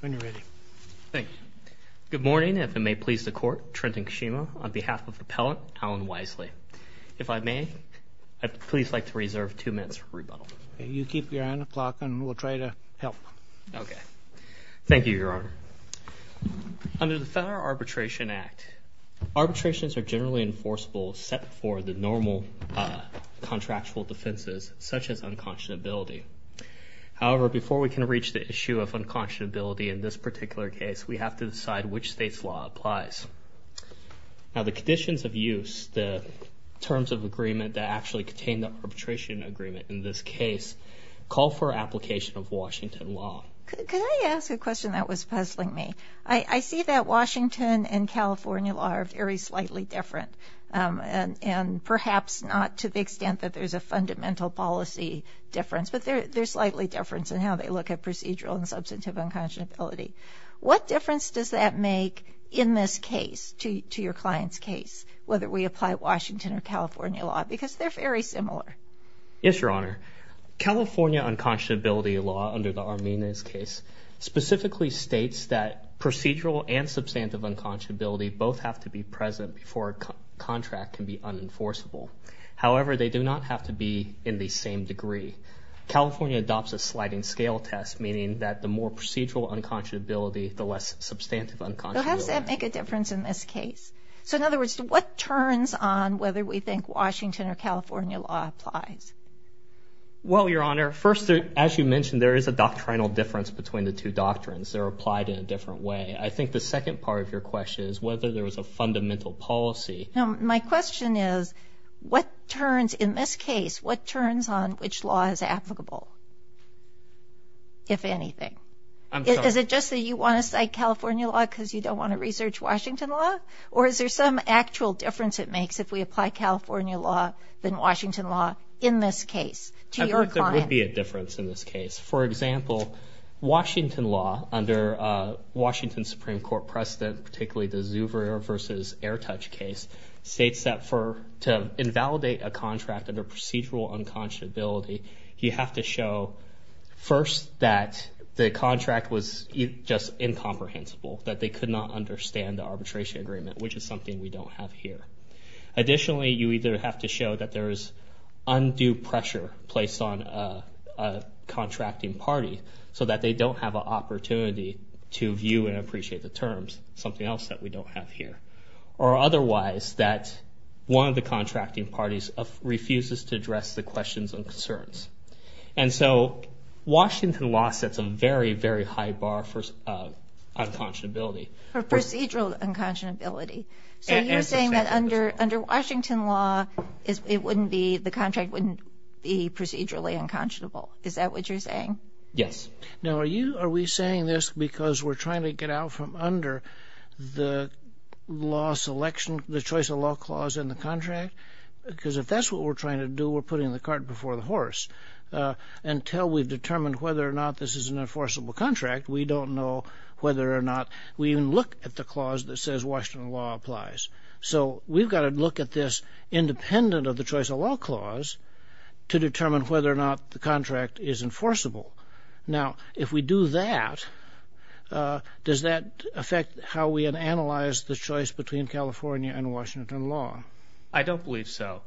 When you're ready. Thank you. Good morning, if it may please the court. Trenton Kashima on behalf of Appellant Alan Wiseley. If I may, I'd please like to reserve two minutes for rebuttal. You keep your hand on the clock and we'll try to help. Okay. Thank you, Your Honor. Under the Federal Arbitration Act, arbitrations are generally enforceable set for the normal contractual defenses, such as unconscionability. However, before we can reach the issue of unconscionability in this particular case, we have to decide which state's law applies. Now, the conditions of use, the terms of agreement that actually contain the arbitration agreement in this case, call for application of Washington law. Could I ask a question that was puzzling me? I see that Washington and California law are very slightly different, and perhaps not to the extent that there's a fundamental policy difference, but there's slightly difference in how they look at procedural and substantive unconscionability. What difference does that make in this case to your client's case, whether we apply Washington or California law? Because they're very similar. Yes, Your Honor. California unconscionability law, under the Arminez case, specifically states that procedural and substantive unconscionability both have to be present before a contract can be unenforceable. However, they do not have to be in the same degree. California adopts a sliding scale test, meaning that the more procedural unconscionability, the less substantive unconscionability. So how does that make a difference in this case? So in other words, what turns on whether we think Washington or California law applies? Well, Your Honor, first, as you mentioned, there is a doctrinal difference between the two doctrines. They're applied in a different way. I think the second part of your question is whether there was a fundamental policy. My question is, in this case, what turns on which law is applicable, if anything? Is it just that you want to cite California law because you don't want to research Washington law? Or is there some actual difference it makes if we apply California law than Washington law in this case to your client? I think there would be a difference in this case. For example, Washington law, under Washington Supreme Court precedent, particularly the Zuber versus Airtouch case, states that to invalidate a contract under procedural unconscionability, you have to show first that the contract was just incomprehensible, that they could not understand the arbitration agreement, which is something we don't have here. Additionally, you either have to show that there is undue pressure placed on a contracting party so that they don't have an opportunity to view and appreciate the terms, something else that we don't have here. Or otherwise, that one of the contracting parties refuses to address the questions and concerns. And so Washington law sets a very, very high bar for unconscionability. For procedural unconscionability. So you're saying that under Washington law, the contract wouldn't be procedurally unconscionable. Is that what you're saying? Yes. Now, are we saying this because we're trying to get out from under the choice of law clause in the contract? Because if that's what we're trying to do, we're putting the cart before the horse. Until we've determined whether or not this is an enforceable contract, we don't know whether or not we even look at the clause that says Washington law applies. So we've got to look at this independent of the choice of law clause to determine whether or not the contract is enforceable. Now, if we do that, does that affect how we analyze the choice between California and Washington law? I don't believe so.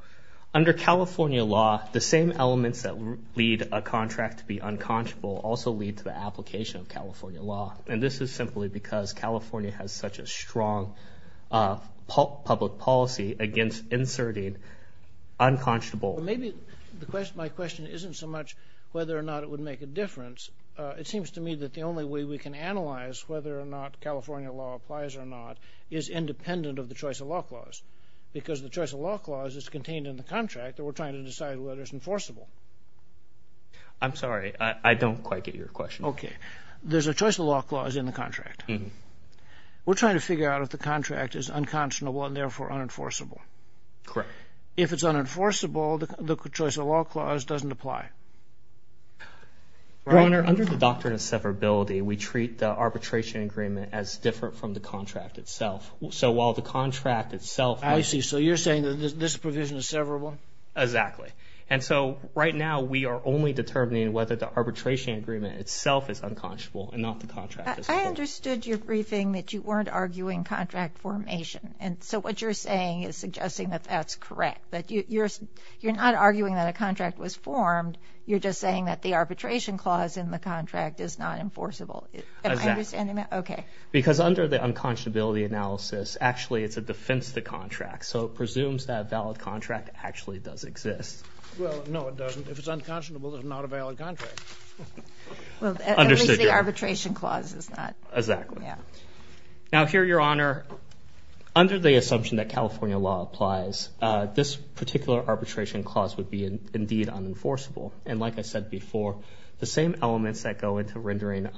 Under California law, the same elements that lead a contract to be unconscionable also lead to the application of California law. And this is simply because California has such a strong public policy against inserting unconscionable. Maybe my question isn't so much whether or not it would make a difference. It seems to me that the only way we can analyze whether or not California law applies or not is independent of the choice of law clause, because the choice of law clause is contained in the contract that we're trying to decide whether it's enforceable. I'm sorry. I don't quite get your question. Okay. There's a choice of law clause in the contract. We're trying to figure out if the contract is unconscionable and therefore unenforceable. Correct. If it's unenforceable, the choice of law clause doesn't apply. Your Honor, under the doctrine of severability, we treat the arbitration agreement as different from the contract itself. So while the contract itself... I see. So you're saying that this provision is severable? Exactly. And so right now we are only determining whether the arbitration agreement itself is unconscionable and not the contract itself. I understood your briefing that you weren't arguing contract formation. And so what you're saying is suggesting that that's correct. But you're not arguing that a contract was formed. You're just saying that the arbitration clause in the contract is not enforceable. Exactly. Okay. Because under the unconscionability analysis, actually it's a defense to contract. So it presumes that a valid contract actually does exist. Well, no, it doesn't. If it's unconscionable, it's not a valid contract. Well, at least the arbitration clause is not. Exactly. Now here, Your Honor, under the assumption that California law applies, this particular arbitration clause would be indeed unenforceable. And like I said before, the same elements that go into rendering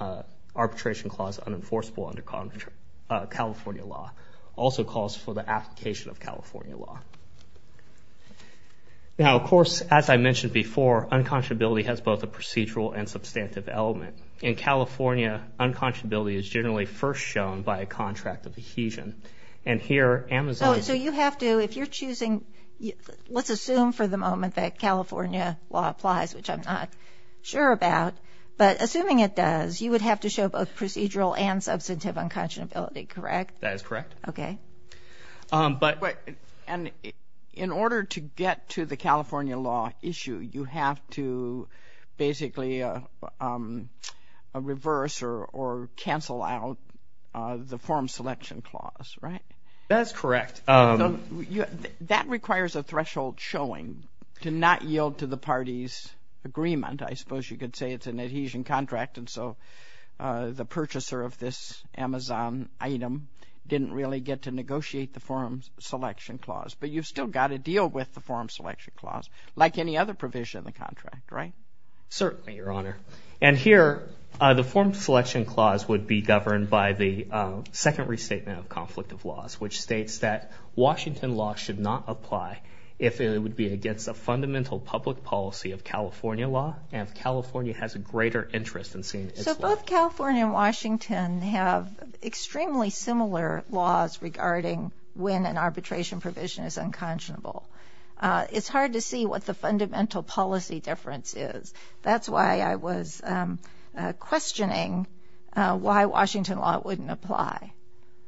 arbitration clause unenforceable under California law also calls for the application of California law. Now, of course, as I mentioned before, unconscionability has both a procedural and substantive element. In California, unconscionability is generally first shown by a contract of adhesion. And here, Amazon is… So you have to, if you're choosing, let's assume for the moment that California law applies, which I'm not sure about, but assuming it does, you would have to show both procedural and substantive unconscionability, correct? That is correct. Okay. But… And in order to get to the California law issue, you have to basically reverse or cancel out the form selection clause, right? That's correct. That requires a threshold showing to not yield to the party's agreement. I suppose you could say it's an adhesion contract, and so the purchaser of this Amazon item didn't really get to negotiate the form selection clause. But you've still got to deal with the form selection clause, like any other provision in the contract, right? Certainly, Your Honor. And here, the form selection clause would be governed by the second restatement of conflict of laws, which states that Washington law should not apply if it would be against a fundamental public policy of California law, and if California has a greater interest in seeing its law. So both California and Washington have extremely similar laws regarding when an arbitration provision is unconscionable. It's hard to see what the fundamental policy difference is. That's why I was questioning why Washington law wouldn't apply.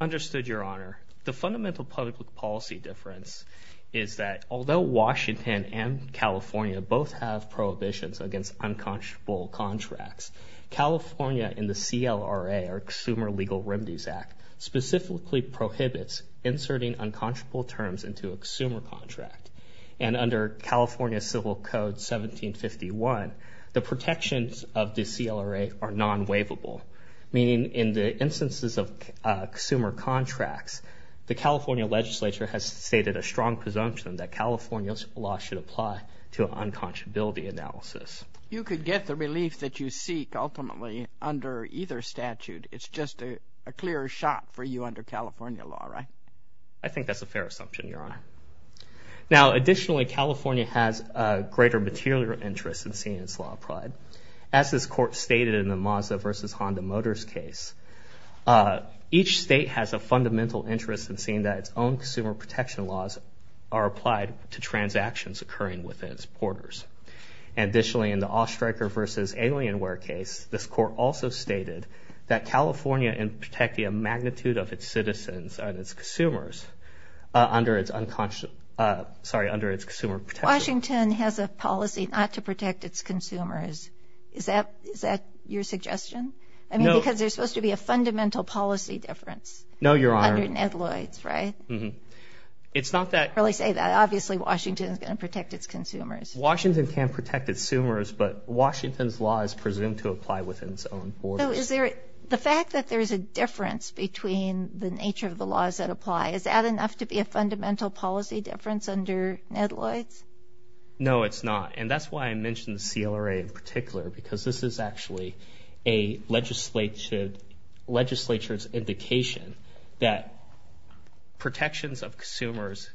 Understood, Your Honor. The fundamental public policy difference is that although Washington and California both have prohibitions against unconscionable contracts, California in the CLRA, or Consumer Legal Remedies Act, specifically prohibits inserting unconscionable terms into a consumer contract. And under California Civil Code 1751, the protections of the CLRA are non-waivable, meaning in the instances of consumer contracts, the California legislature has stated a strong presumption that California's law should apply to an unconscionability analysis. You could get the relief that you seek, ultimately, under either statute. It's just a clear shot for you under California law, right? I think that's a fair assumption, Your Honor. Now, additionally, California has a greater material interest in seeing its law applied. As this Court stated in the Mazda v. Honda Motors case, each state has a fundamental interest in seeing that its own consumer protection laws are applied to transactions occurring within its borders. And additionally, in the All-Striker v. Alienware case, this Court also stated that California in protecting a magnitude of its citizens and its consumers under its consumer protection laws. Washington has a policy not to protect its consumers. Is that your suggestion? No. I mean, because there's supposed to be a fundamental policy difference. No, Your Honor. Under Netloy's, right? Mm-hmm. It's not that— I didn't really say that. Obviously, Washington is going to protect its consumers. Washington can protect its consumers, but Washington's law is presumed to apply within its own borders. So is there—the fact that there's a difference between the nature of the laws that apply, is that enough to be a fundamental policy difference under Netloy's? And that's why I mentioned the CLRA in particular, because this is actually a legislature's indication that protections of consumers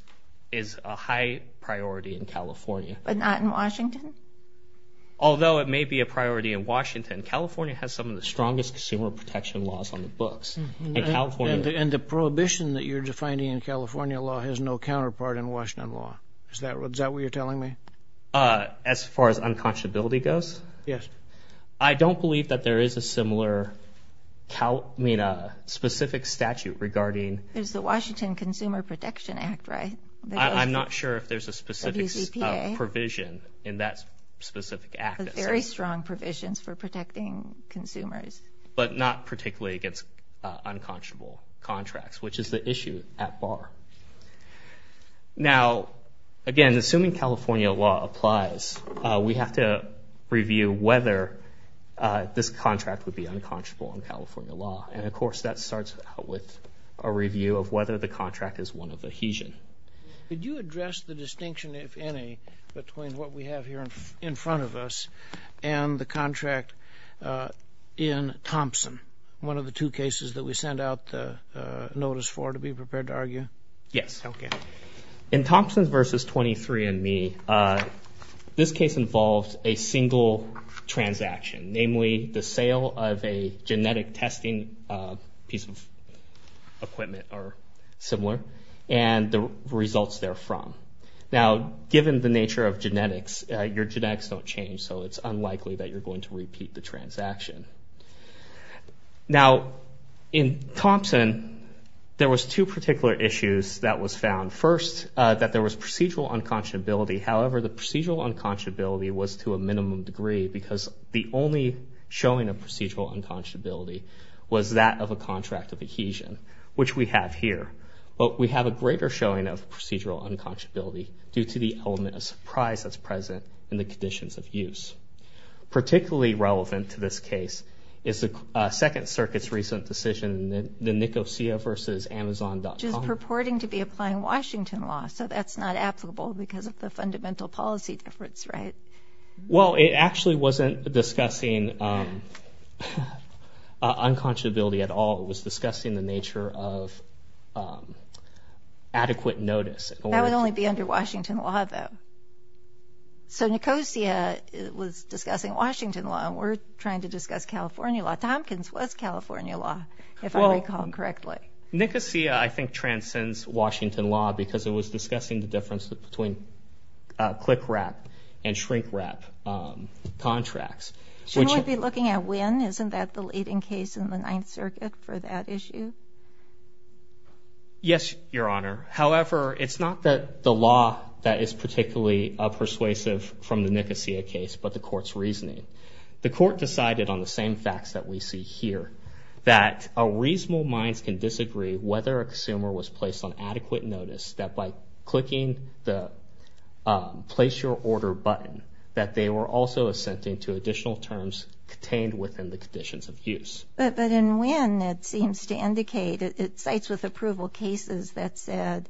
is a high priority in California. But not in Washington? Although it may be a priority in Washington, California has some of the strongest consumer protection laws on the books. And California— And the prohibition that you're defining in California law has no counterpart in Washington law. Is that what you're telling me? As far as unconscionability goes? Yes. I don't believe that there is a similar— I mean, a specific statute regarding— There's the Washington Consumer Protection Act, right? I'm not sure if there's a specific provision in that specific act. There's very strong provisions for protecting consumers. But not particularly against unconscionable contracts, which is the issue at bar. Now, again, assuming California law applies, we have to review whether this contract would be unconscionable in California law. And, of course, that starts out with a review of whether the contract is one of adhesion. Could you address the distinction, if any, between what we have here in front of us and the contract in Thompson, one of the two cases that we sent out the notice for, to be prepared to argue? Yes. Okay. In Thompson v. 23andMe, this case involved a single transaction, namely the sale of a genetic testing piece of equipment or similar, and the results therefrom. Now, given the nature of genetics, your genetics don't change, so it's unlikely that you're going to repeat the transaction. Now, in Thompson, there was two particular issues that was found. First, that there was procedural unconscionability. However, the procedural unconscionability was to a minimum degree because the only showing of procedural unconscionability was that of a contract of adhesion, which we have here. But we have a greater showing of procedural unconscionability due to the element of surprise that's present in the conditions of use. Particularly relevant to this case is the Second Circuit's recent decision, the Nicosia v. Amazon.com. Which is purporting to be applying Washington law, so that's not applicable because of the fundamental policy difference, right? Well, it actually wasn't discussing unconscionability at all. It was discussing the nature of adequate notice. That would only be under Washington law, though. So Nicosia was discussing Washington law, and we're trying to discuss California law. Tompkins was California law, if I recall correctly. Well, Nicosia, I think, transcends Washington law because it was discussing the difference between click-wrap and shrink-wrap contracts. Shouldn't we be looking at when? Isn't that the leading case in the Ninth Circuit for that issue? Yes, Your Honor. However, it's not the law that is particularly persuasive from the Nicosia case, but the Court's reasoning. The Court decided on the same facts that we see here, that reasonable minds can disagree whether a consumer was placed on adequate notice that by clicking the Place Your Order button, that they were also assenting to additional terms contained within the conditions of use. But in when, it seems to indicate, it cites with approval cases that said,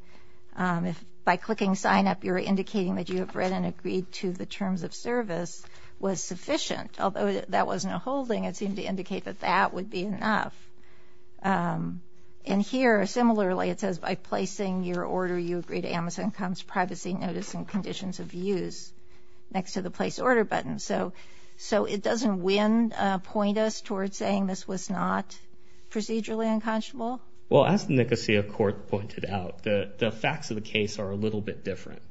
by clicking Sign Up, you're indicating that you have read and agreed to the terms of service was sufficient. Although that was no holding, it seemed to indicate that that would be enough. And here, similarly, it says by placing your order, you agree to Amazon.com's Privacy Notice and Conditions of Use next to the Place Order button. So it doesn't when point us towards saying this was not procedurally unconscionable? Well, as the Nicosia Court pointed out, the facts of the case are a little bit different.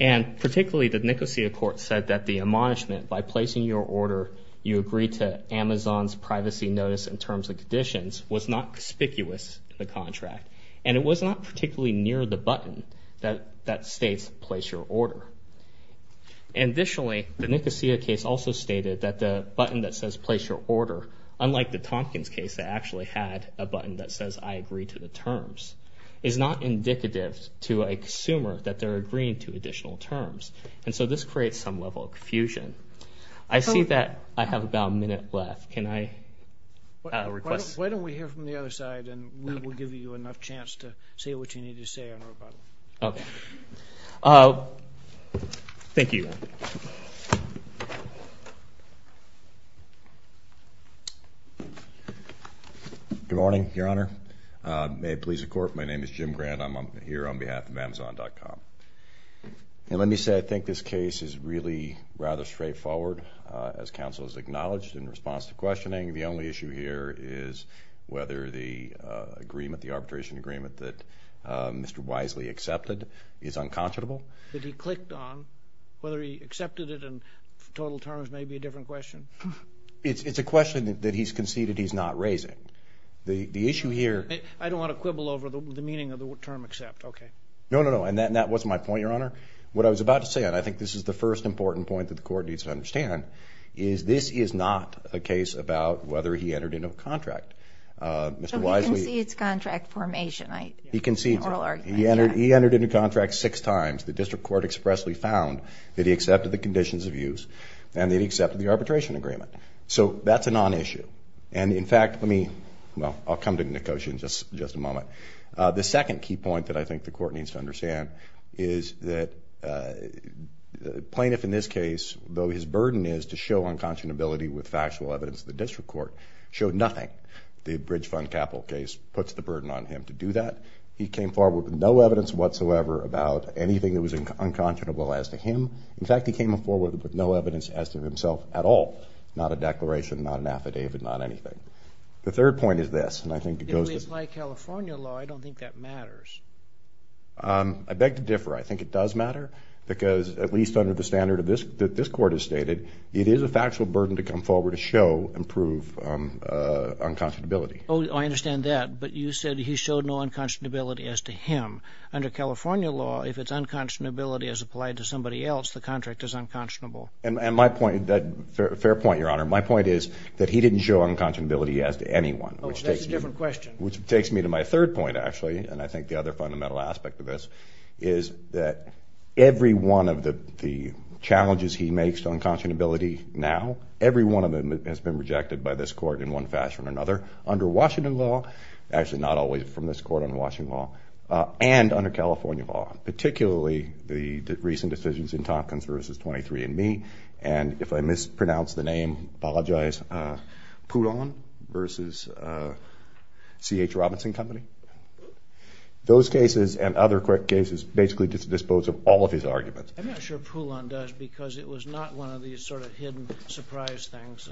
And particularly, the Nicosia Court said that the admonishment by placing your order, you agree to Amazon's Privacy Notice and Terms and Conditions, was not conspicuous in the contract. And it was not particularly near the button that states Place Your Order. Additionally, the Nicosia case also stated that the button that says Place Your Order, unlike the Tompkins case that actually had a button that says I agree to the terms, is not indicative to a consumer that they're agreeing to additional terms. And so this creates some level of confusion. I see that I have about a minute left. Can I request? Why don't we hear from the other side, and we will give you enough chance to say what you need to say on rebuttal. Okay. Thank you. Good morning, Your Honor. May it please the Court, my name is Jim Grant. I'm here on behalf of Amazon.com. And let me say I think this case is really rather straightforward, as counsel has acknowledged in response to questioning. The only issue here is whether the agreement, the arbitration agreement that Mr. Wisely accepted is unconscionable. That he clicked on. Whether he accepted it in total terms may be a different question. It's a question that he's conceded he's not raising. The issue here. I don't want to quibble over the meaning of the term accept. Okay. No, no, no. And that wasn't my point, Your Honor. What I was about to say, and I think this is the first important point that the Court needs to understand, is this is not a case about whether he entered into a contract. So he concedes contract formation. He concedes it. He entered into contract six times. The district court expressly found that he accepted the conditions of use and that he accepted the arbitration agreement. So that's a non-issue. And, in fact, let me, well, I'll come to Nicosia in just a moment. The second key point that I think the Court needs to understand is that the plaintiff in this case, though his burden is to show unconscionability with factual evidence, the district court showed nothing. The bridge fund capital case puts the burden on him to do that. He came forward with no evidence whatsoever about anything that was unconscionable as to him. In fact, he came forward with no evidence as to himself at all, not a declaration, not an affidavit, not anything. The third point is this, and I think it goes to... At least by California law, I don't think that matters. I beg to differ. I think it does matter because, at least under the standard that this Court has stated, it is a factual burden to come forward to show and prove unconscionability. Oh, I understand that, but you said he showed no unconscionability as to him. Under California law, if its unconscionability is applied to somebody else, the contract is unconscionable. And my point, a fair point, Your Honor, my point is that he didn't show unconscionability as to anyone. Oh, that's a different question. Which takes me to my third point, actually, and I think the other fundamental aspect of this, is that every one of the challenges he makes to unconscionability now, every one of them has been rejected by this Court in one fashion or another. Under Washington law, actually not always from this Court under Washington law, and under California law, particularly the recent decisions in Tompkins v. 23 and Me, and if I mispronounce the name, apologize, Poulon v. C.H. Robinson Company. Those cases and other cases basically just dispose of all of his arguments. I'm not sure Poulon does, because it was not one of these sort of hidden surprise things.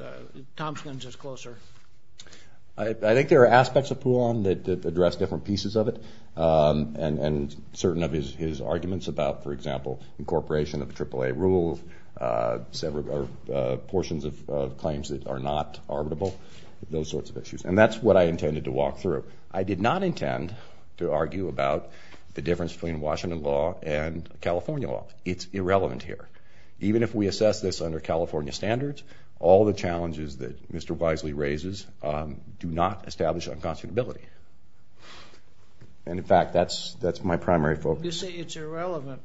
Tompkins is closer. I think there are aspects of Poulon that address different pieces of it, and certain of his arguments about, for example, incorporation of AAA rules, portions of claims that are not arbitrable, those sorts of issues. And that's what I intended to walk through. I did not intend to argue about the difference between Washington law and California law. It's irrelevant here. Even if we assess this under California standards, all the challenges that Mr. Wisely raises do not establish unconscionability. And, in fact, that's my primary focus. You say it's irrelevant.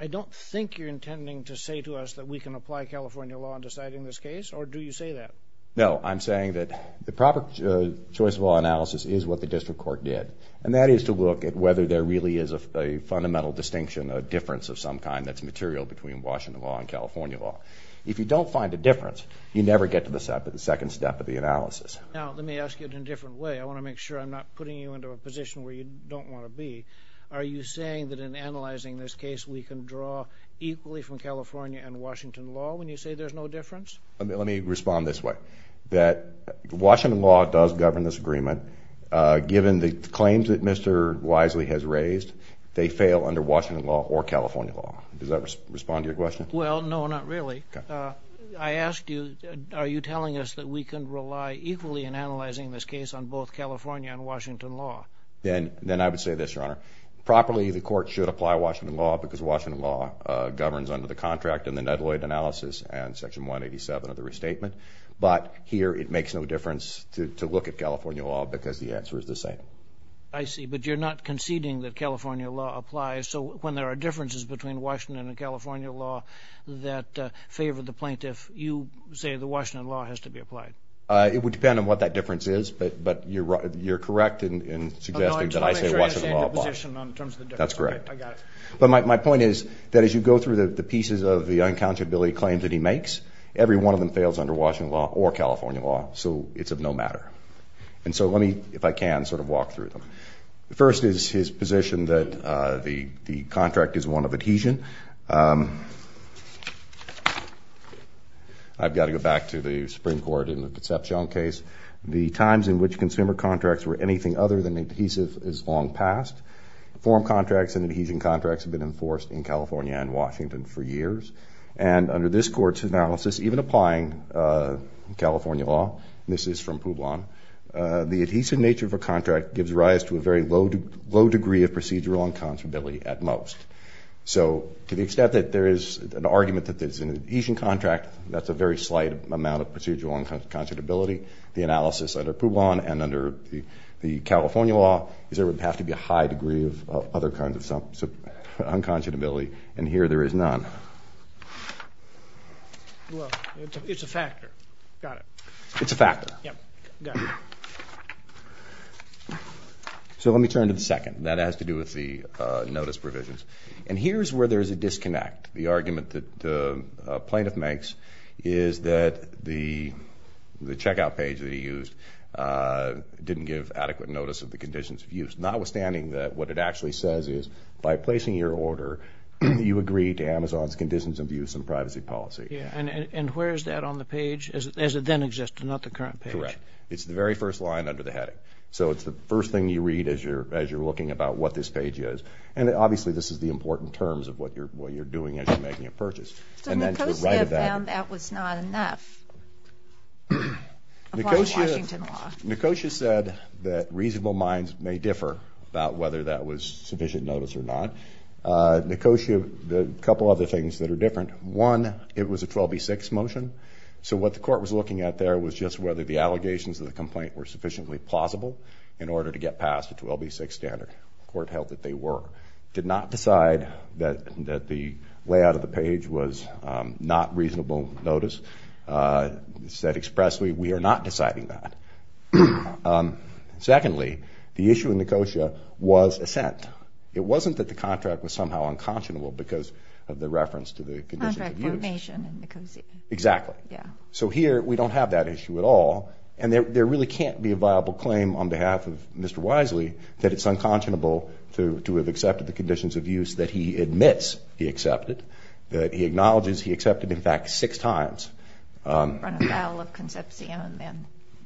I don't think you're intending to say to us that we can apply California law in deciding this case, or do you say that? No. I'm saying that the proper choice of law analysis is what the district court did, and that is to look at whether there really is a fundamental distinction, a difference of some kind that's material between Washington law and California law. If you don't find a difference, you never get to the second step of the analysis. Now, let me ask you it in a different way. I want to make sure I'm not putting you into a position where you don't want to be. Are you saying that in analyzing this case, we can draw equally from California and Washington law when you say there's no difference? Let me respond this way, that Washington law does govern this agreement. Given the claims that Mr. Wisely has raised, they fail under Washington law or California law. Does that respond to your question? Well, no, not really. I asked you, are you telling us that we can rely equally in analyzing this case on both California and Washington law? Then I would say this, Your Honor. Properly, the court should apply Washington law, because Washington law governs under the contract in the Nedloyd analysis and Section 187 of the restatement. But here it makes no difference to look at California law because the answer is the same. I see. But you're not conceding that California law applies. So when there are differences between Washington and California law that favor the plaintiff, you say the Washington law has to be applied. It would depend on what that difference is. But you're correct in suggesting that I say Washington law applies. That's correct. But my point is that as you go through the pieces of the uncountability claims that he makes, every one of them fails under Washington law or California law, so it's of no matter. And so let me, if I can, sort of walk through them. First is his position that the contract is one of adhesion. I've got to go back to the Supreme Court in the Katsapjong case. The times in which consumer contracts were anything other than adhesive is long past. Form contracts and adhesion contracts have been enforced in California and Washington for years. And under this Court's analysis, even applying California law, and this is from Publon, the adhesive nature of a contract gives rise to a very low degree of procedural unconscionability at most. So to the extent that there is an argument that it's an adhesion contract, that's a very slight amount of procedural unconscionability. The analysis under Publon and under the California law is there would have to be a high degree of other kinds of unconscionability, and here there is none. Well, it's a factor. Got it. It's a factor. Yeah, got it. So let me turn to the second. That has to do with the notice provisions. And here's where there's a disconnect. The argument that the plaintiff makes is that the checkout page that he used didn't give adequate notice of the conditions of use, notwithstanding that what it actually says is by placing your order, you agree to Amazon's conditions of use and privacy policy. Yeah, and where is that on the page as it then existed, not the current page? Correct. It's the very first line under the heading. So it's the first thing you read as you're looking about what this page is. And obviously this is the important terms of what you're doing as you're making a purchase. And then to the right of that. So Nicosia found that was not enough? Nicosia said that reasonable minds may differ about whether that was sufficient notice or not. Nicosia, a couple other things that are different. One, it was a 12B6 motion. So what the court was looking at there was just whether the allegations of the complaint were sufficiently plausible in order to get past a 12B6 standard. The court held that they were. Did not decide that the layout of the page was not reasonable notice. Said expressly, we are not deciding that. Secondly, the issue in Nicosia was assent. It wasn't that the contract was somehow unconscionable because of the reference to the conditions of use. Contract formation in Nicosia. Exactly. Yeah. So here we don't have that issue at all. And there really can't be a viable claim on behalf of Mr. Wisely that it's unconscionable to have accepted the conditions of use that he admits he accepted. That he acknowledges he accepted, in fact, six times. That would run afoul of Concepcion then.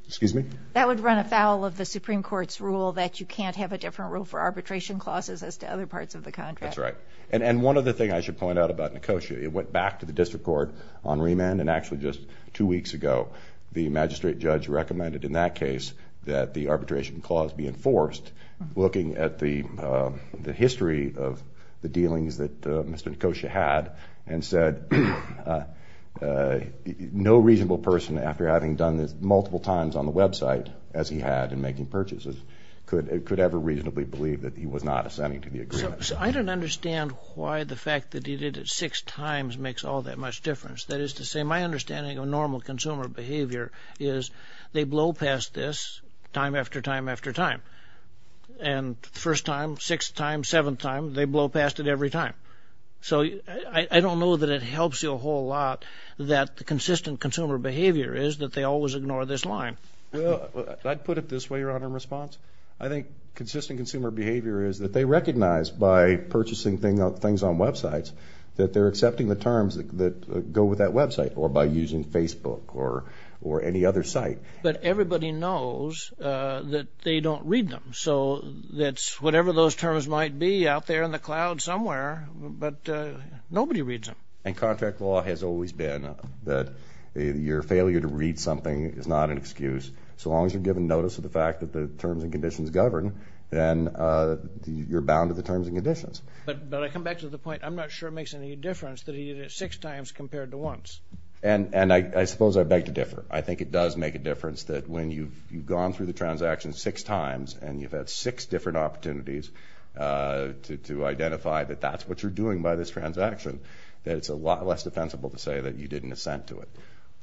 Excuse me? That would run afoul of the Supreme Court's rule that you can't have a different rule for arbitration clauses as to other parts of the contract. That's right. And one other thing I should point out about Nicosia. It went back to the district court on remand and actually just two weeks ago the magistrate judge recommended in that case that the arbitration clause be enforced. Looking at the history of the dealings that Mr. Nicosia had and said no reasonable person, after having done this multiple times on the website as he had in making purchases, could ever reasonably believe that he was not assenting to the agreement. I don't understand why the fact that he did it six times makes all that much difference. That is to say my understanding of normal consumer behavior is they blow past this time after time after time. And the first time, sixth time, seventh time, they blow past it every time. So I don't know that it helps you a whole lot that the consistent consumer behavior is that they always ignore this line. Well, I'd put it this way, Your Honor, in response. I think consistent consumer behavior is that they recognize by purchasing things on websites that they're accepting the terms that go with that website or by using Facebook or any other site. But everybody knows that they don't read them. So that's whatever those terms might be out there in the cloud somewhere, but nobody reads them. And contract law has always been that your failure to read something is not an excuse. So long as you're given notice of the fact that the terms and conditions govern, then you're bound to the terms and conditions. But I come back to the point, I'm not sure it makes any difference that he did it six times compared to once. And I suppose I beg to differ. I think it does make a difference that when you've gone through the transaction six times and you've had six different opportunities to identify that that's what you're doing by this transaction, that it's a lot less defensible to say that you didn't assent to it.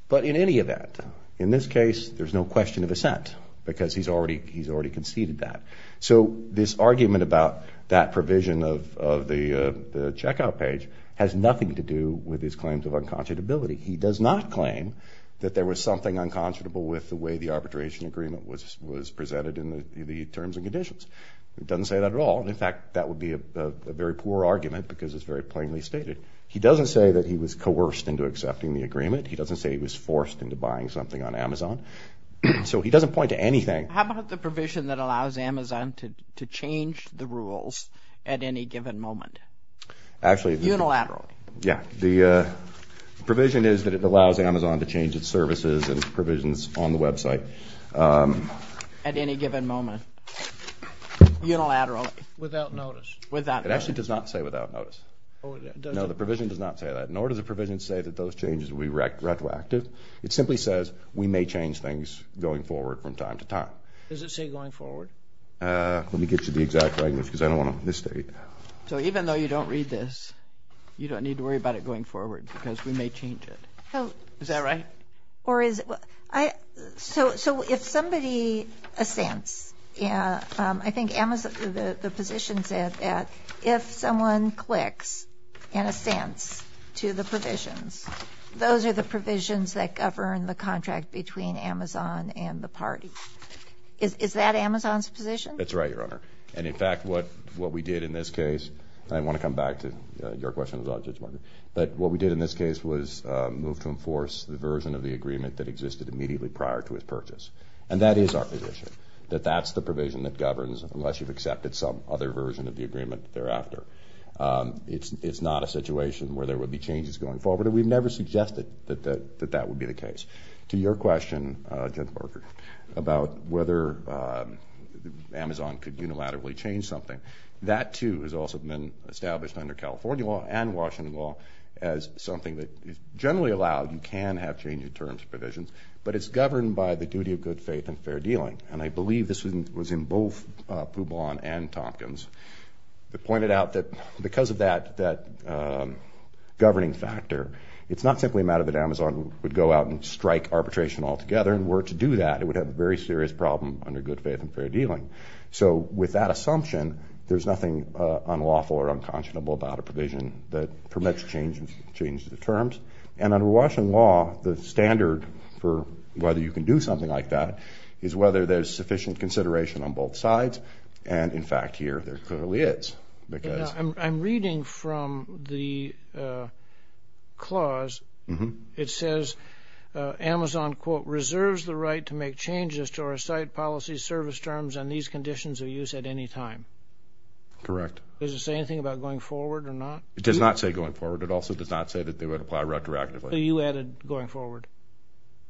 But in any event, in this case, there's no question of assent because he's already conceded that. So this argument about that provision of the checkout page has nothing to do with his claims of unconscionability. He does not claim that there was something unconscionable with the way the arbitration agreement was presented in the terms and conditions. He doesn't say that at all. In fact, that would be a very poor argument because it's very plainly stated. He doesn't say that he was coerced into accepting the agreement. He doesn't say he was forced into buying something on Amazon. So he doesn't point to anything. How about the provision that allows Amazon to change the rules at any given moment, unilaterally? Yeah. The provision is that it allows Amazon to change its services and provisions on the website. At any given moment, unilaterally. Without notice. Without notice. It actually does not say without notice. Oh, it doesn't? No, the provision does not say that. Nor does the provision say that those changes will be retroactive. It simply says we may change things going forward from time to time. Does it say going forward? Let me get you the exact language because I don't want to misstate. So even though you don't read this, you don't need to worry about it going forward because we may change it. Is that right? So if somebody assents, I think the position said that if someone clicks and assents to the provisions, those are the provisions that govern the contract between Amazon and the party. Is that Amazon's position? That's right, Your Honor. And, in fact, what we did in this case, and I want to come back to your question, but what we did in this case was move to enforce the version of the agreement that existed immediately prior to his purchase. And that is our position, that that's the provision that governs, unless you've accepted some other version of the agreement thereafter. It's not a situation where there would be changes going forward, and we've never suggested that that would be the case. To your question, Judge Barker, about whether Amazon could unilaterally change something, that, too, has also been established under California law and Washington law as something that is generally allowed. You can have change-of-terms provisions, but it's governed by the duty of good faith and fair dealing. And I believe this was in both Poubon and Tompkins. They pointed out that because of that governing factor, it's not simply a matter that Amazon would go out and strike arbitration altogether. And were it to do that, it would have a very serious problem under good faith and fair dealing. So with that assumption, there's nothing unlawful or unconscionable about a provision that permits change of terms. And under Washington law, the standard for whether you can do something like that is whether there's sufficient consideration on both sides. And, in fact, here there clearly is. I'm reading from the clause. It says Amazon, quote, reserves the right to make changes to our site policy service terms on these conditions of use at any time. Correct. Does it say anything about going forward or not? It does not say going forward. It also does not say that they would apply retroactively. So you added going forward.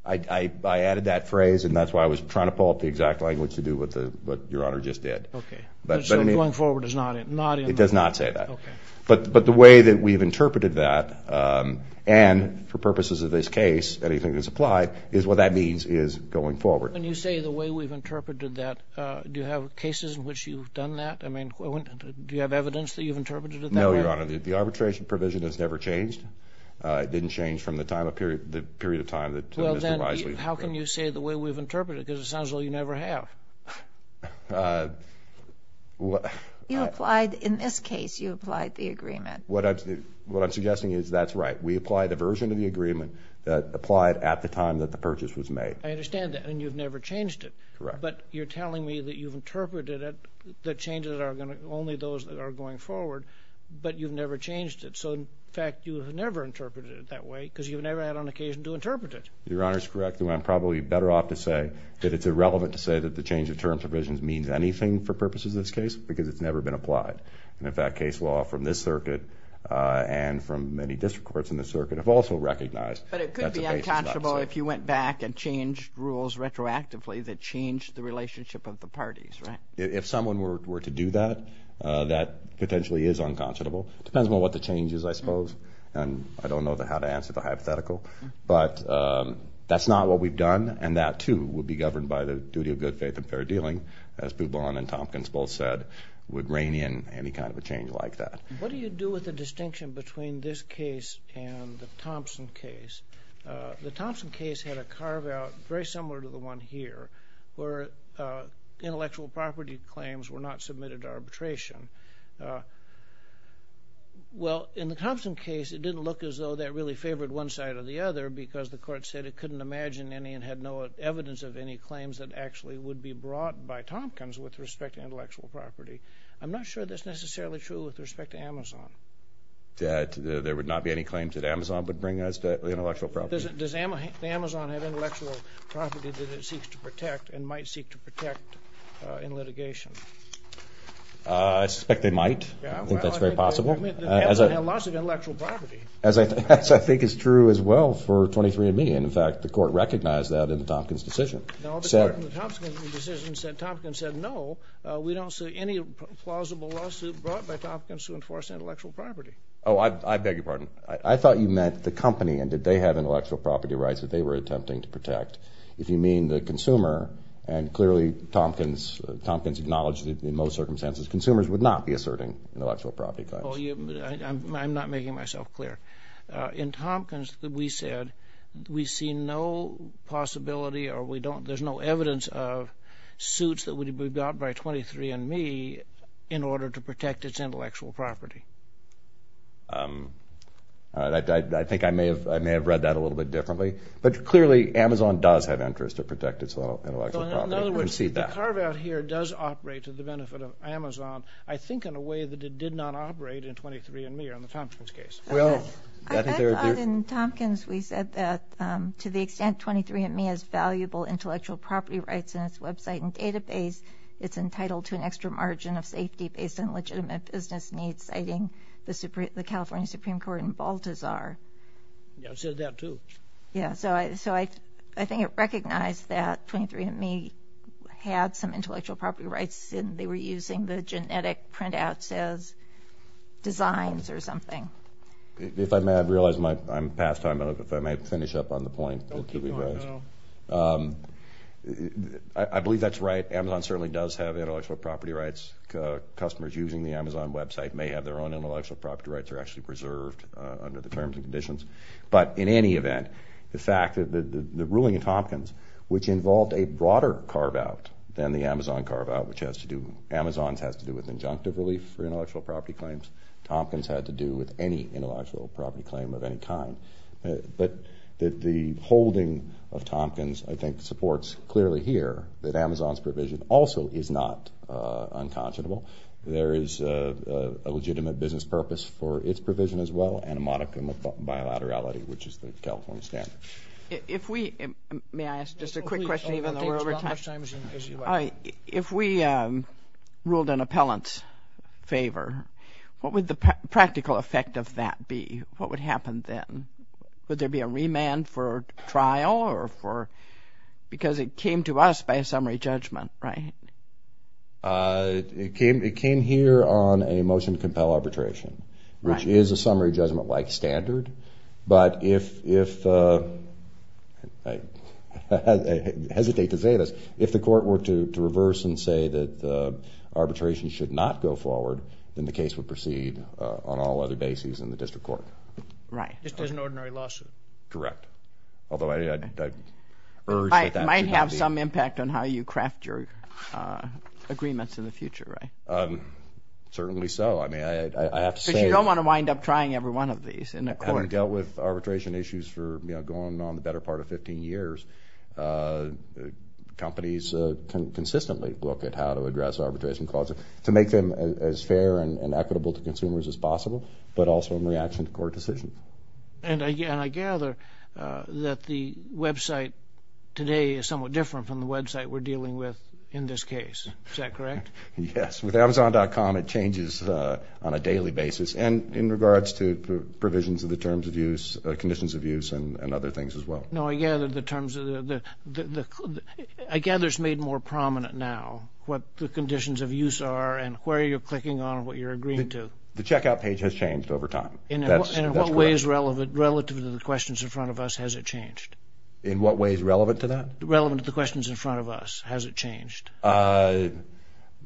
I added that phrase, and that's why I was trying to pull up the exact language to do what Your Honor just did. Okay. So going forward is not in the law? It does not say that. Okay. But the way that we've interpreted that, and for purposes of this case, anything that's applied, is what that means is going forward. When you say the way we've interpreted that, do you have cases in which you've done that? I mean, do you have evidence that you've interpreted it that way? No, Your Honor. The arbitration provision has never changed. It didn't change from the period of time that Mr. Wise was here. Well, then how can you say the way we've interpreted it? Because it sounds like you never have. You applied, in this case, you applied the agreement. What I'm suggesting is that's right. We applied a version of the agreement that applied at the time that the purchase was made. I understand that, and you've never changed it. Correct. But you're telling me that you've interpreted it, that changes are only those that are going forward, but you've never changed it. So, in fact, you've never interpreted it that way because you've never had an occasion to interpret it. Your Honor is correct. I'm probably better off to say that it's irrelevant to say that the change of terms provision means anything for purposes of this case because it's never been applied. And, in fact, case law from this circuit and from many district courts in this circuit have also recognized that the case is not the same. But it could be unconscionable if you went back and changed rules retroactively that changed the relationship of the parties, right? If someone were to do that, that potentially is unconscionable. It depends on what the change is, I suppose, and I don't know how to answer the hypothetical. But that's not what we've done, and that, too, would be governed by the duty of good faith and fair dealing, as Boudreaux and Tompkins both said, would rein in any kind of a change like that. What do you do with the distinction between this case and the Thompson case? The Thompson case had a carve-out very similar to the one here where intellectual property claims were not submitted to arbitration. Well, in the Thompson case, it didn't look as though that really favored one side or the other because the court said it couldn't imagine any and had no evidence of any claims that actually would be brought by Tompkins with respect to intellectual property. I'm not sure that's necessarily true with respect to Amazon. That there would not be any claims that Amazon would bring as to intellectual property? Does Amazon have intellectual property that it seeks to protect and might seek to protect in litigation? I suspect they might. I think that's very possible. Amazon had lots of intellectual property. That, I think, is true as well for 23andMe. In fact, the court recognized that in the Tompkins decision. No, because in the Thompson decision, Tompkins said, no, we don't see any plausible lawsuit brought by Tompkins to enforce intellectual property. Oh, I beg your pardon. I thought you meant the company and did they have intellectual property rights that they were attempting to protect. If you mean the consumer, and clearly Tompkins acknowledged that in most circumstances, consumers would not be asserting intellectual property claims. I'm not making myself clear. In Tompkins, we said we see no possibility or there's no evidence of suits that would be brought by 23andMe in order to protect its intellectual property. I think I may have read that a little bit differently. But clearly, Amazon does have interest to protect its intellectual property. In other words, the carve out here does operate to the benefit of Amazon, I think in a way that it did not operate in 23andMe or in the Tompkins case. Well, I thought in Tompkins we said that to the extent 23andMe has valuable intellectual property rights in its website and database, it's entitled to an extra margin of safety based on legitimate business needs, citing the California Supreme Court in Baltazar. Yeah, it said that too. Yeah, so I think it recognized that 23andMe had some intellectual property rights and they were using the genetic printouts as designs or something. If I may, I realize I'm past time. I don't know if I may finish up on the point. I believe that's right. Amazon certainly does have intellectual property rights. Customers using the Amazon website may have their own intellectual property rights or actually preserved under the terms and conditions. But in any event, the fact that the ruling in Tompkins, which involved a broader carve out than the Amazon carve out, which has to do with injunctive relief for intellectual property claims. Tompkins had to do with any intellectual property claim of any kind. But the holding of Tompkins, I think, supports clearly here that Amazon's provision also is not unconscionable. There is a legitimate business purpose for its provision as well and a modicum of bilaterality, which is the California standard. May I ask just a quick question, even though we're over time? If we ruled an appellant's favor, what would the practical effect of that be? What would happen then? Would there be a remand for trial because it came to us by a summary judgment, right? It came here on a motion to compel arbitration, which is a summary judgment-like standard. But if I hesitate to say this, if the court were to reverse and say that arbitration should not go forward, then the case would proceed on all other bases in the district court. Right. Just as an ordinary lawsuit. Correct. Although I urge that that should not be. That would have some impact on how you craft your agreements in the future, right? Certainly so. I mean, I have to say- But you don't want to wind up trying every one of these in a court. Having dealt with arbitration issues for going on the better part of 15 years, companies can consistently look at how to address arbitration clauses to make them as fair and equitable to consumers as possible, but also in reaction to court decisions. And I gather that the website today is somewhat different from the website we're dealing with in this case. Is that correct? Yes. With Amazon.com, it changes on a daily basis, and in regards to provisions of the terms of use, conditions of use, and other things as well. No, I gather the terms of the- I gather it's made more prominent now what the conditions of use are and where you're clicking on and what you're agreeing to. The checkout page has changed over time. And in what ways relative to the questions in front of us has it changed? In what ways relevant to that? Relevant to the questions in front of us, has it changed?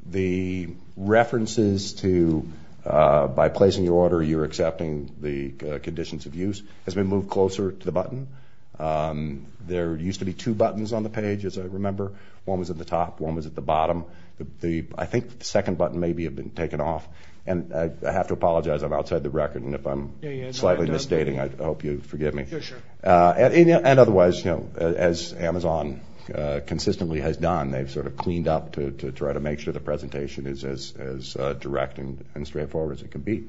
The references to by placing your order, you're accepting the conditions of use, has been moved closer to the button. There used to be two buttons on the page, as I remember. One was at the top, one was at the bottom. I think the second button maybe had been taken off. And I have to apologize. I'm outside the record, and if I'm slightly misstating, I hope you'll forgive me. Sure, sure. And otherwise, as Amazon consistently has done, they've sort of cleaned up to try to make sure the presentation is as direct and straightforward as it can be.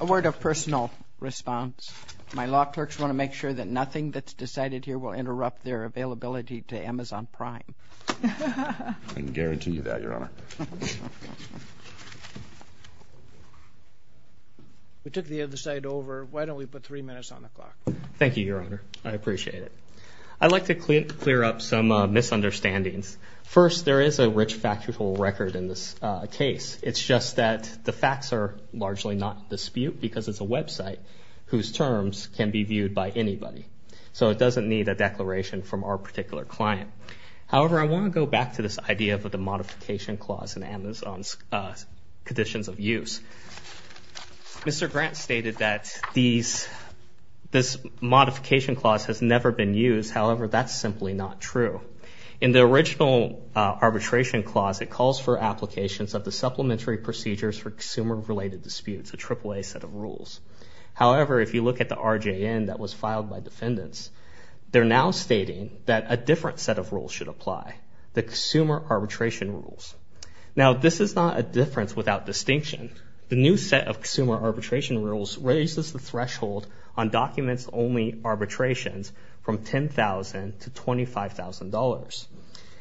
A word of personal response. My law clerks want to make sure that nothing that's decided here will interrupt their availability to Amazon Prime. I can guarantee you that, Your Honor. We took the other side over. Why don't we put three minutes on the clock? Thank you, Your Honor. I appreciate it. I'd like to clear up some misunderstandings. First, there is a rich factual record in this case. It's just that the facts are largely not in dispute because it's a website whose terms can be viewed by anybody. So it doesn't need a declaration from our particular client. However, I want to go back to this idea of the modification clause in Amazon's conditions of use. Mr. Grant stated that this modification clause has never been used. However, that's simply not true. In the original arbitration clause, it calls for applications of the supplementary procedures for consumer-related disputes, a AAA set of rules. However, if you look at the RJN that was filed by defendants, they're now stating that a different set of rules should apply, the consumer arbitration rules. Now, this is not a difference without distinction. The new set of consumer arbitration rules raises the threshold on documents-only arbitrations from $10,000 to $25,000.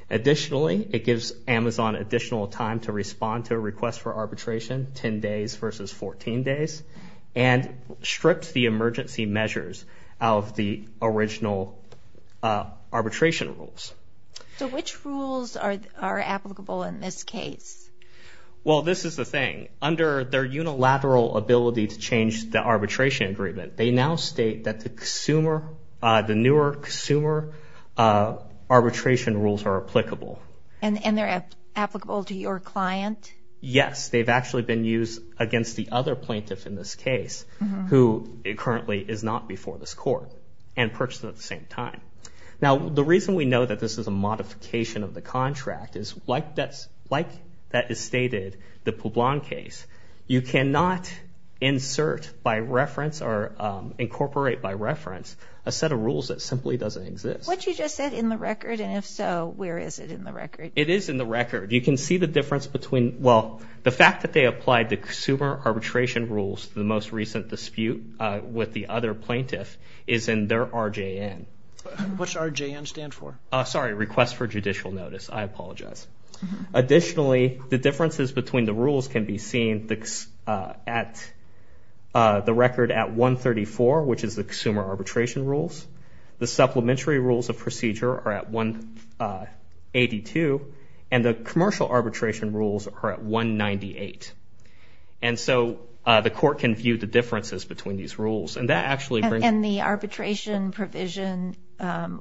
Additionally, it gives Amazon additional time to respond to a request for arbitration, 10 days versus 14 days, and strips the emergency measures of the original arbitration rules. So which rules are applicable in this case? Well, this is the thing. Under their unilateral ability to change the arbitration agreement, they now state that the newer consumer arbitration rules are applicable. And they're applicable to your client? Yes, they've actually been used against the other plaintiff in this case who currently is not before this court and purchased at the same time. Now, the reason we know that this is a modification of the contract is, like that is stated, the Poblan case, you cannot insert by reference or incorporate by reference a set of rules that simply doesn't exist. What you just said, in the record, and if so, where is it in the record? It is in the record. You can see the difference between, well, the fact that they applied the consumer arbitration rules to the most recent dispute with the other plaintiff is in their RJN. What's RJN stand for? Sorry, request for judicial notice. I apologize. Additionally, the differences between the rules can be seen at the record at 134, which is the consumer arbitration rules. The supplementary rules of procedure are at 182. And the commercial arbitration rules are at 198. And so the court can view the differences between these rules. And that actually brings… And the arbitration provision,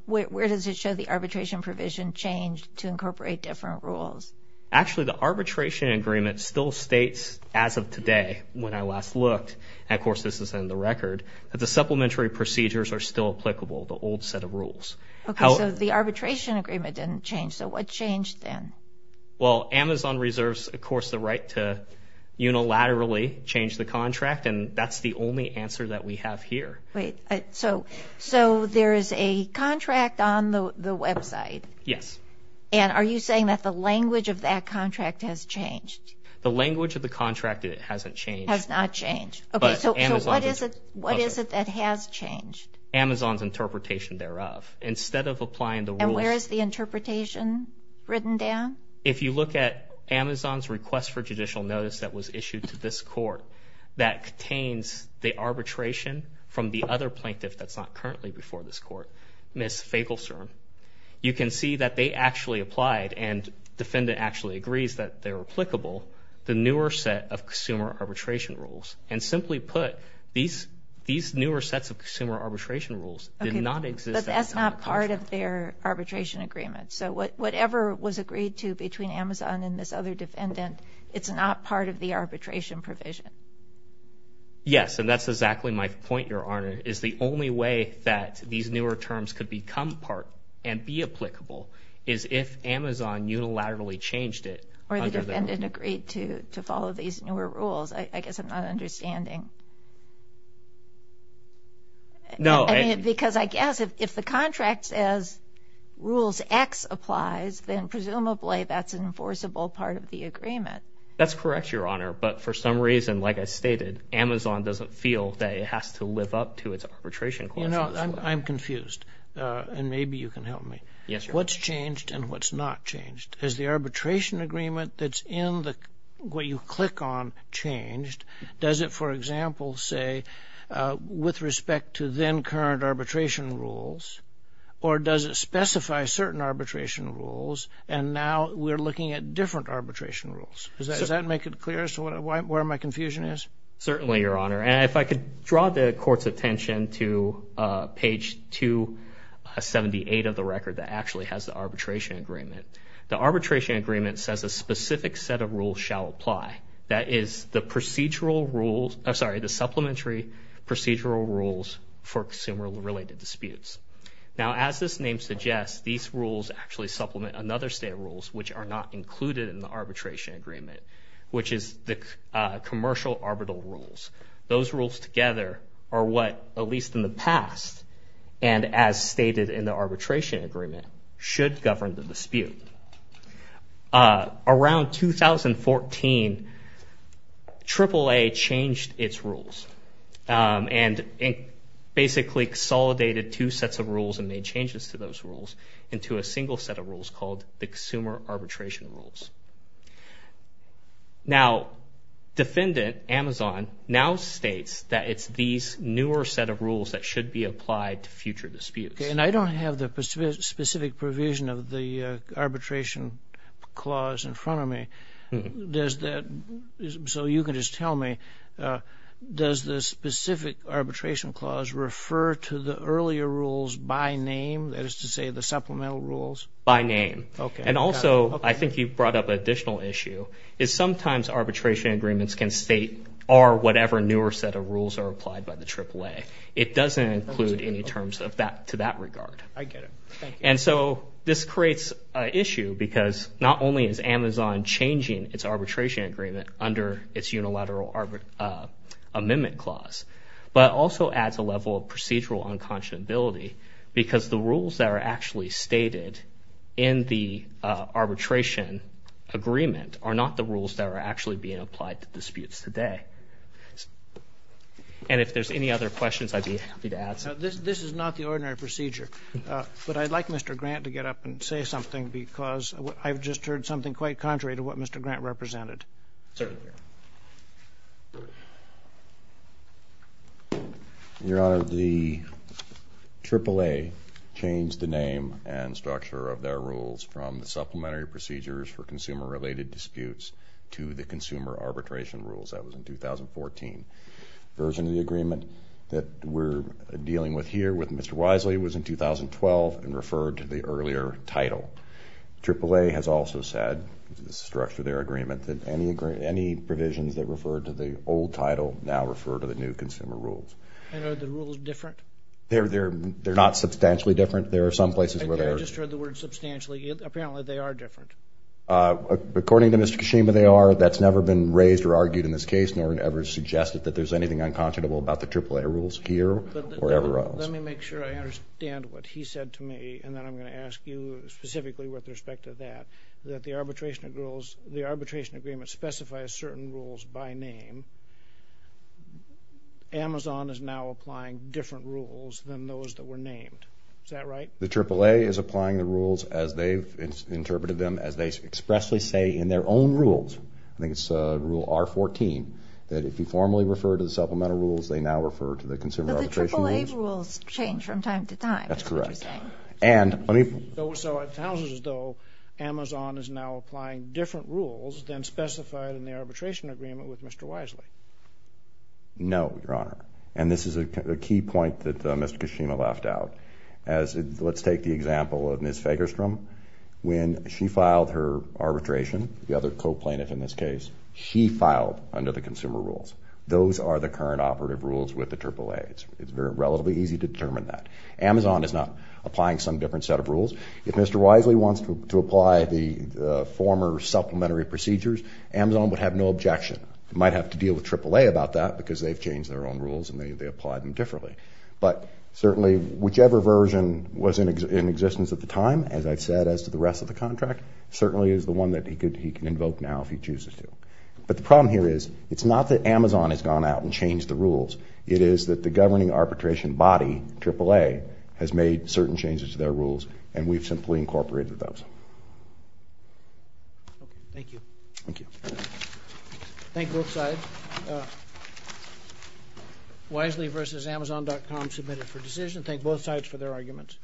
where does it show the arbitration provision changed to incorporate different rules? Actually, the arbitration agreement still states, as of today, when I last looked, and, of course, this is in the record, that the supplementary procedures are still applicable, the old set of rules. Okay, so the arbitration agreement didn't change. So what changed then? Well, Amazon reserves, of course, the right to unilaterally change the contract, and that's the only answer that we have here. So there is a contract on the website. Yes. And are you saying that the language of that contract has changed? The language of the contract hasn't changed. Has not changed. Okay, so what is it that has changed? Amazon's interpretation thereof. Instead of applying the rules… If you look at Amazon's request for judicial notice that was issued to this court that contains the arbitration from the other plaintiff that's not currently before this court, Ms. Fagelstrom, you can see that they actually applied, and defendant actually agrees that they're applicable, the newer set of consumer arbitration rules. And simply put, these newer sets of consumer arbitration rules did not exist. But that's not part of their arbitration agreement. So whatever was agreed to between Amazon and this other defendant, it's not part of the arbitration provision. Yes, and that's exactly my point, Your Honor, is the only way that these newer terms could become part and be applicable is if Amazon unilaterally changed it. Or the defendant agreed to follow these newer rules. I guess I'm not understanding. No. Because I guess if the contract says rules X applies, then presumably that's an enforceable part of the agreement. That's correct, Your Honor. But for some reason, like I stated, Amazon doesn't feel that it has to live up to its arbitration clauses. You know, I'm confused, and maybe you can help me. Yes, Your Honor. What's changed and what's not changed? Is the arbitration agreement that's in what you click on changed? Does it, for example, say, with respect to then current arbitration rules, or does it specify certain arbitration rules and now we're looking at different arbitration rules? Does that make it clear as to where my confusion is? Certainly, Your Honor. And if I could draw the Court's attention to page 278 of the record that actually has the arbitration agreement. The arbitration agreement says a specific set of rules shall apply. That is the procedural rules, I'm sorry, the supplementary procedural rules for consumer-related disputes. Now, as this name suggests, these rules actually supplement another set of rules, which are not included in the arbitration agreement, which is the commercial arbitral rules. Those rules together are what, at least in the past, and as stated in the arbitration agreement, should govern the dispute. Around 2014, AAA changed its rules and basically consolidated two sets of rules and made changes to those rules into a single set of rules called the consumer arbitration rules. Now, defendant, Amazon, now states that it's these newer set of rules that should be applied to future disputes. Okay, and I don't have the specific provision of the arbitration clause in front of me. Does that, so you can just tell me, does the specific arbitration clause refer to the earlier rules by name, that is to say the supplemental rules? By name. And also, I think you brought up an additional issue, is sometimes arbitration agreements can state are whatever newer set of rules are applied by the AAA. It doesn't include any terms to that regard. I get it. And so this creates an issue because not only is Amazon changing its arbitration agreement under its unilateral amendment clause, but also adds a level of procedural unconscionability because the rules that are actually stated in the arbitration agreement are not the rules that are actually being applied to disputes today. And if there's any other questions I'd be happy to answer. This is not the ordinary procedure, but I'd like Mr. Grant to get up and say something because I've just heard something quite contrary to what Mr. Grant represented. Certainly. Your Honor, the AAA changed the name and structure of their rules from the supplementary procedures for consumer-related disputes to the consumer arbitration rules. That was in 2014. The version of the agreement that we're dealing with here with Mr. Wisely was in 2012 and referred to the earlier title. AAA has also said, the structure of their agreement, that any provisions that refer to the old title now refer to the new consumer rules. And are the rules different? They're not substantially different. There are some places where they are. I just heard the word substantially. Apparently, they are different. According to Mr. Kashima, they are. That's never been raised or argued in this case, nor ever suggested that there's anything unconscionable about the AAA rules here or ever else. Let me make sure I understand what he said to me, and then I'm going to ask you specifically with respect to that, that the arbitration rules, the arbitration agreement specifies certain rules by name. Amazon is now applying different rules than those that were named. Is that right? The AAA is applying the rules as they've interpreted them, as they expressly say in their own rules. I think it's Rule R14, that if you formally refer to the supplemental rules, they now refer to the consumer arbitration rules. But the AAA rules change from time to time, is what you're saying. That's correct. So it sounds as though Amazon is now applying different rules than specified in the arbitration agreement with Mr. Wisely. No, Your Honor. And this is a key point that Mr. Kashima left out. Let's take the example of Ms. Fagerstrom. When she filed her arbitration, the other co-plaintiff in this case, she filed under the consumer rules. Those are the current operative rules with the AAA. It's relatively easy to determine that. Amazon is not applying some different set of rules. If Mr. Wisely wants to apply the former supplementary procedures, Amazon would have no objection. It might have to deal with AAA about that, because they've changed their own rules and they apply them differently. But certainly, whichever version was in existence at the time, as I've said as to the rest of the contract, certainly is the one that he can invoke now if he chooses to. But the problem here is, it's not that Amazon has gone out and changed the rules. It is that the governing arbitration body, AAA, has made certain changes to their rules, and we've simply incorporated those. Okay. Thank you. Thank you. Thank you both sides. Wisely v. Amazon.com, submitted for decision. Thank both sides for their arguments.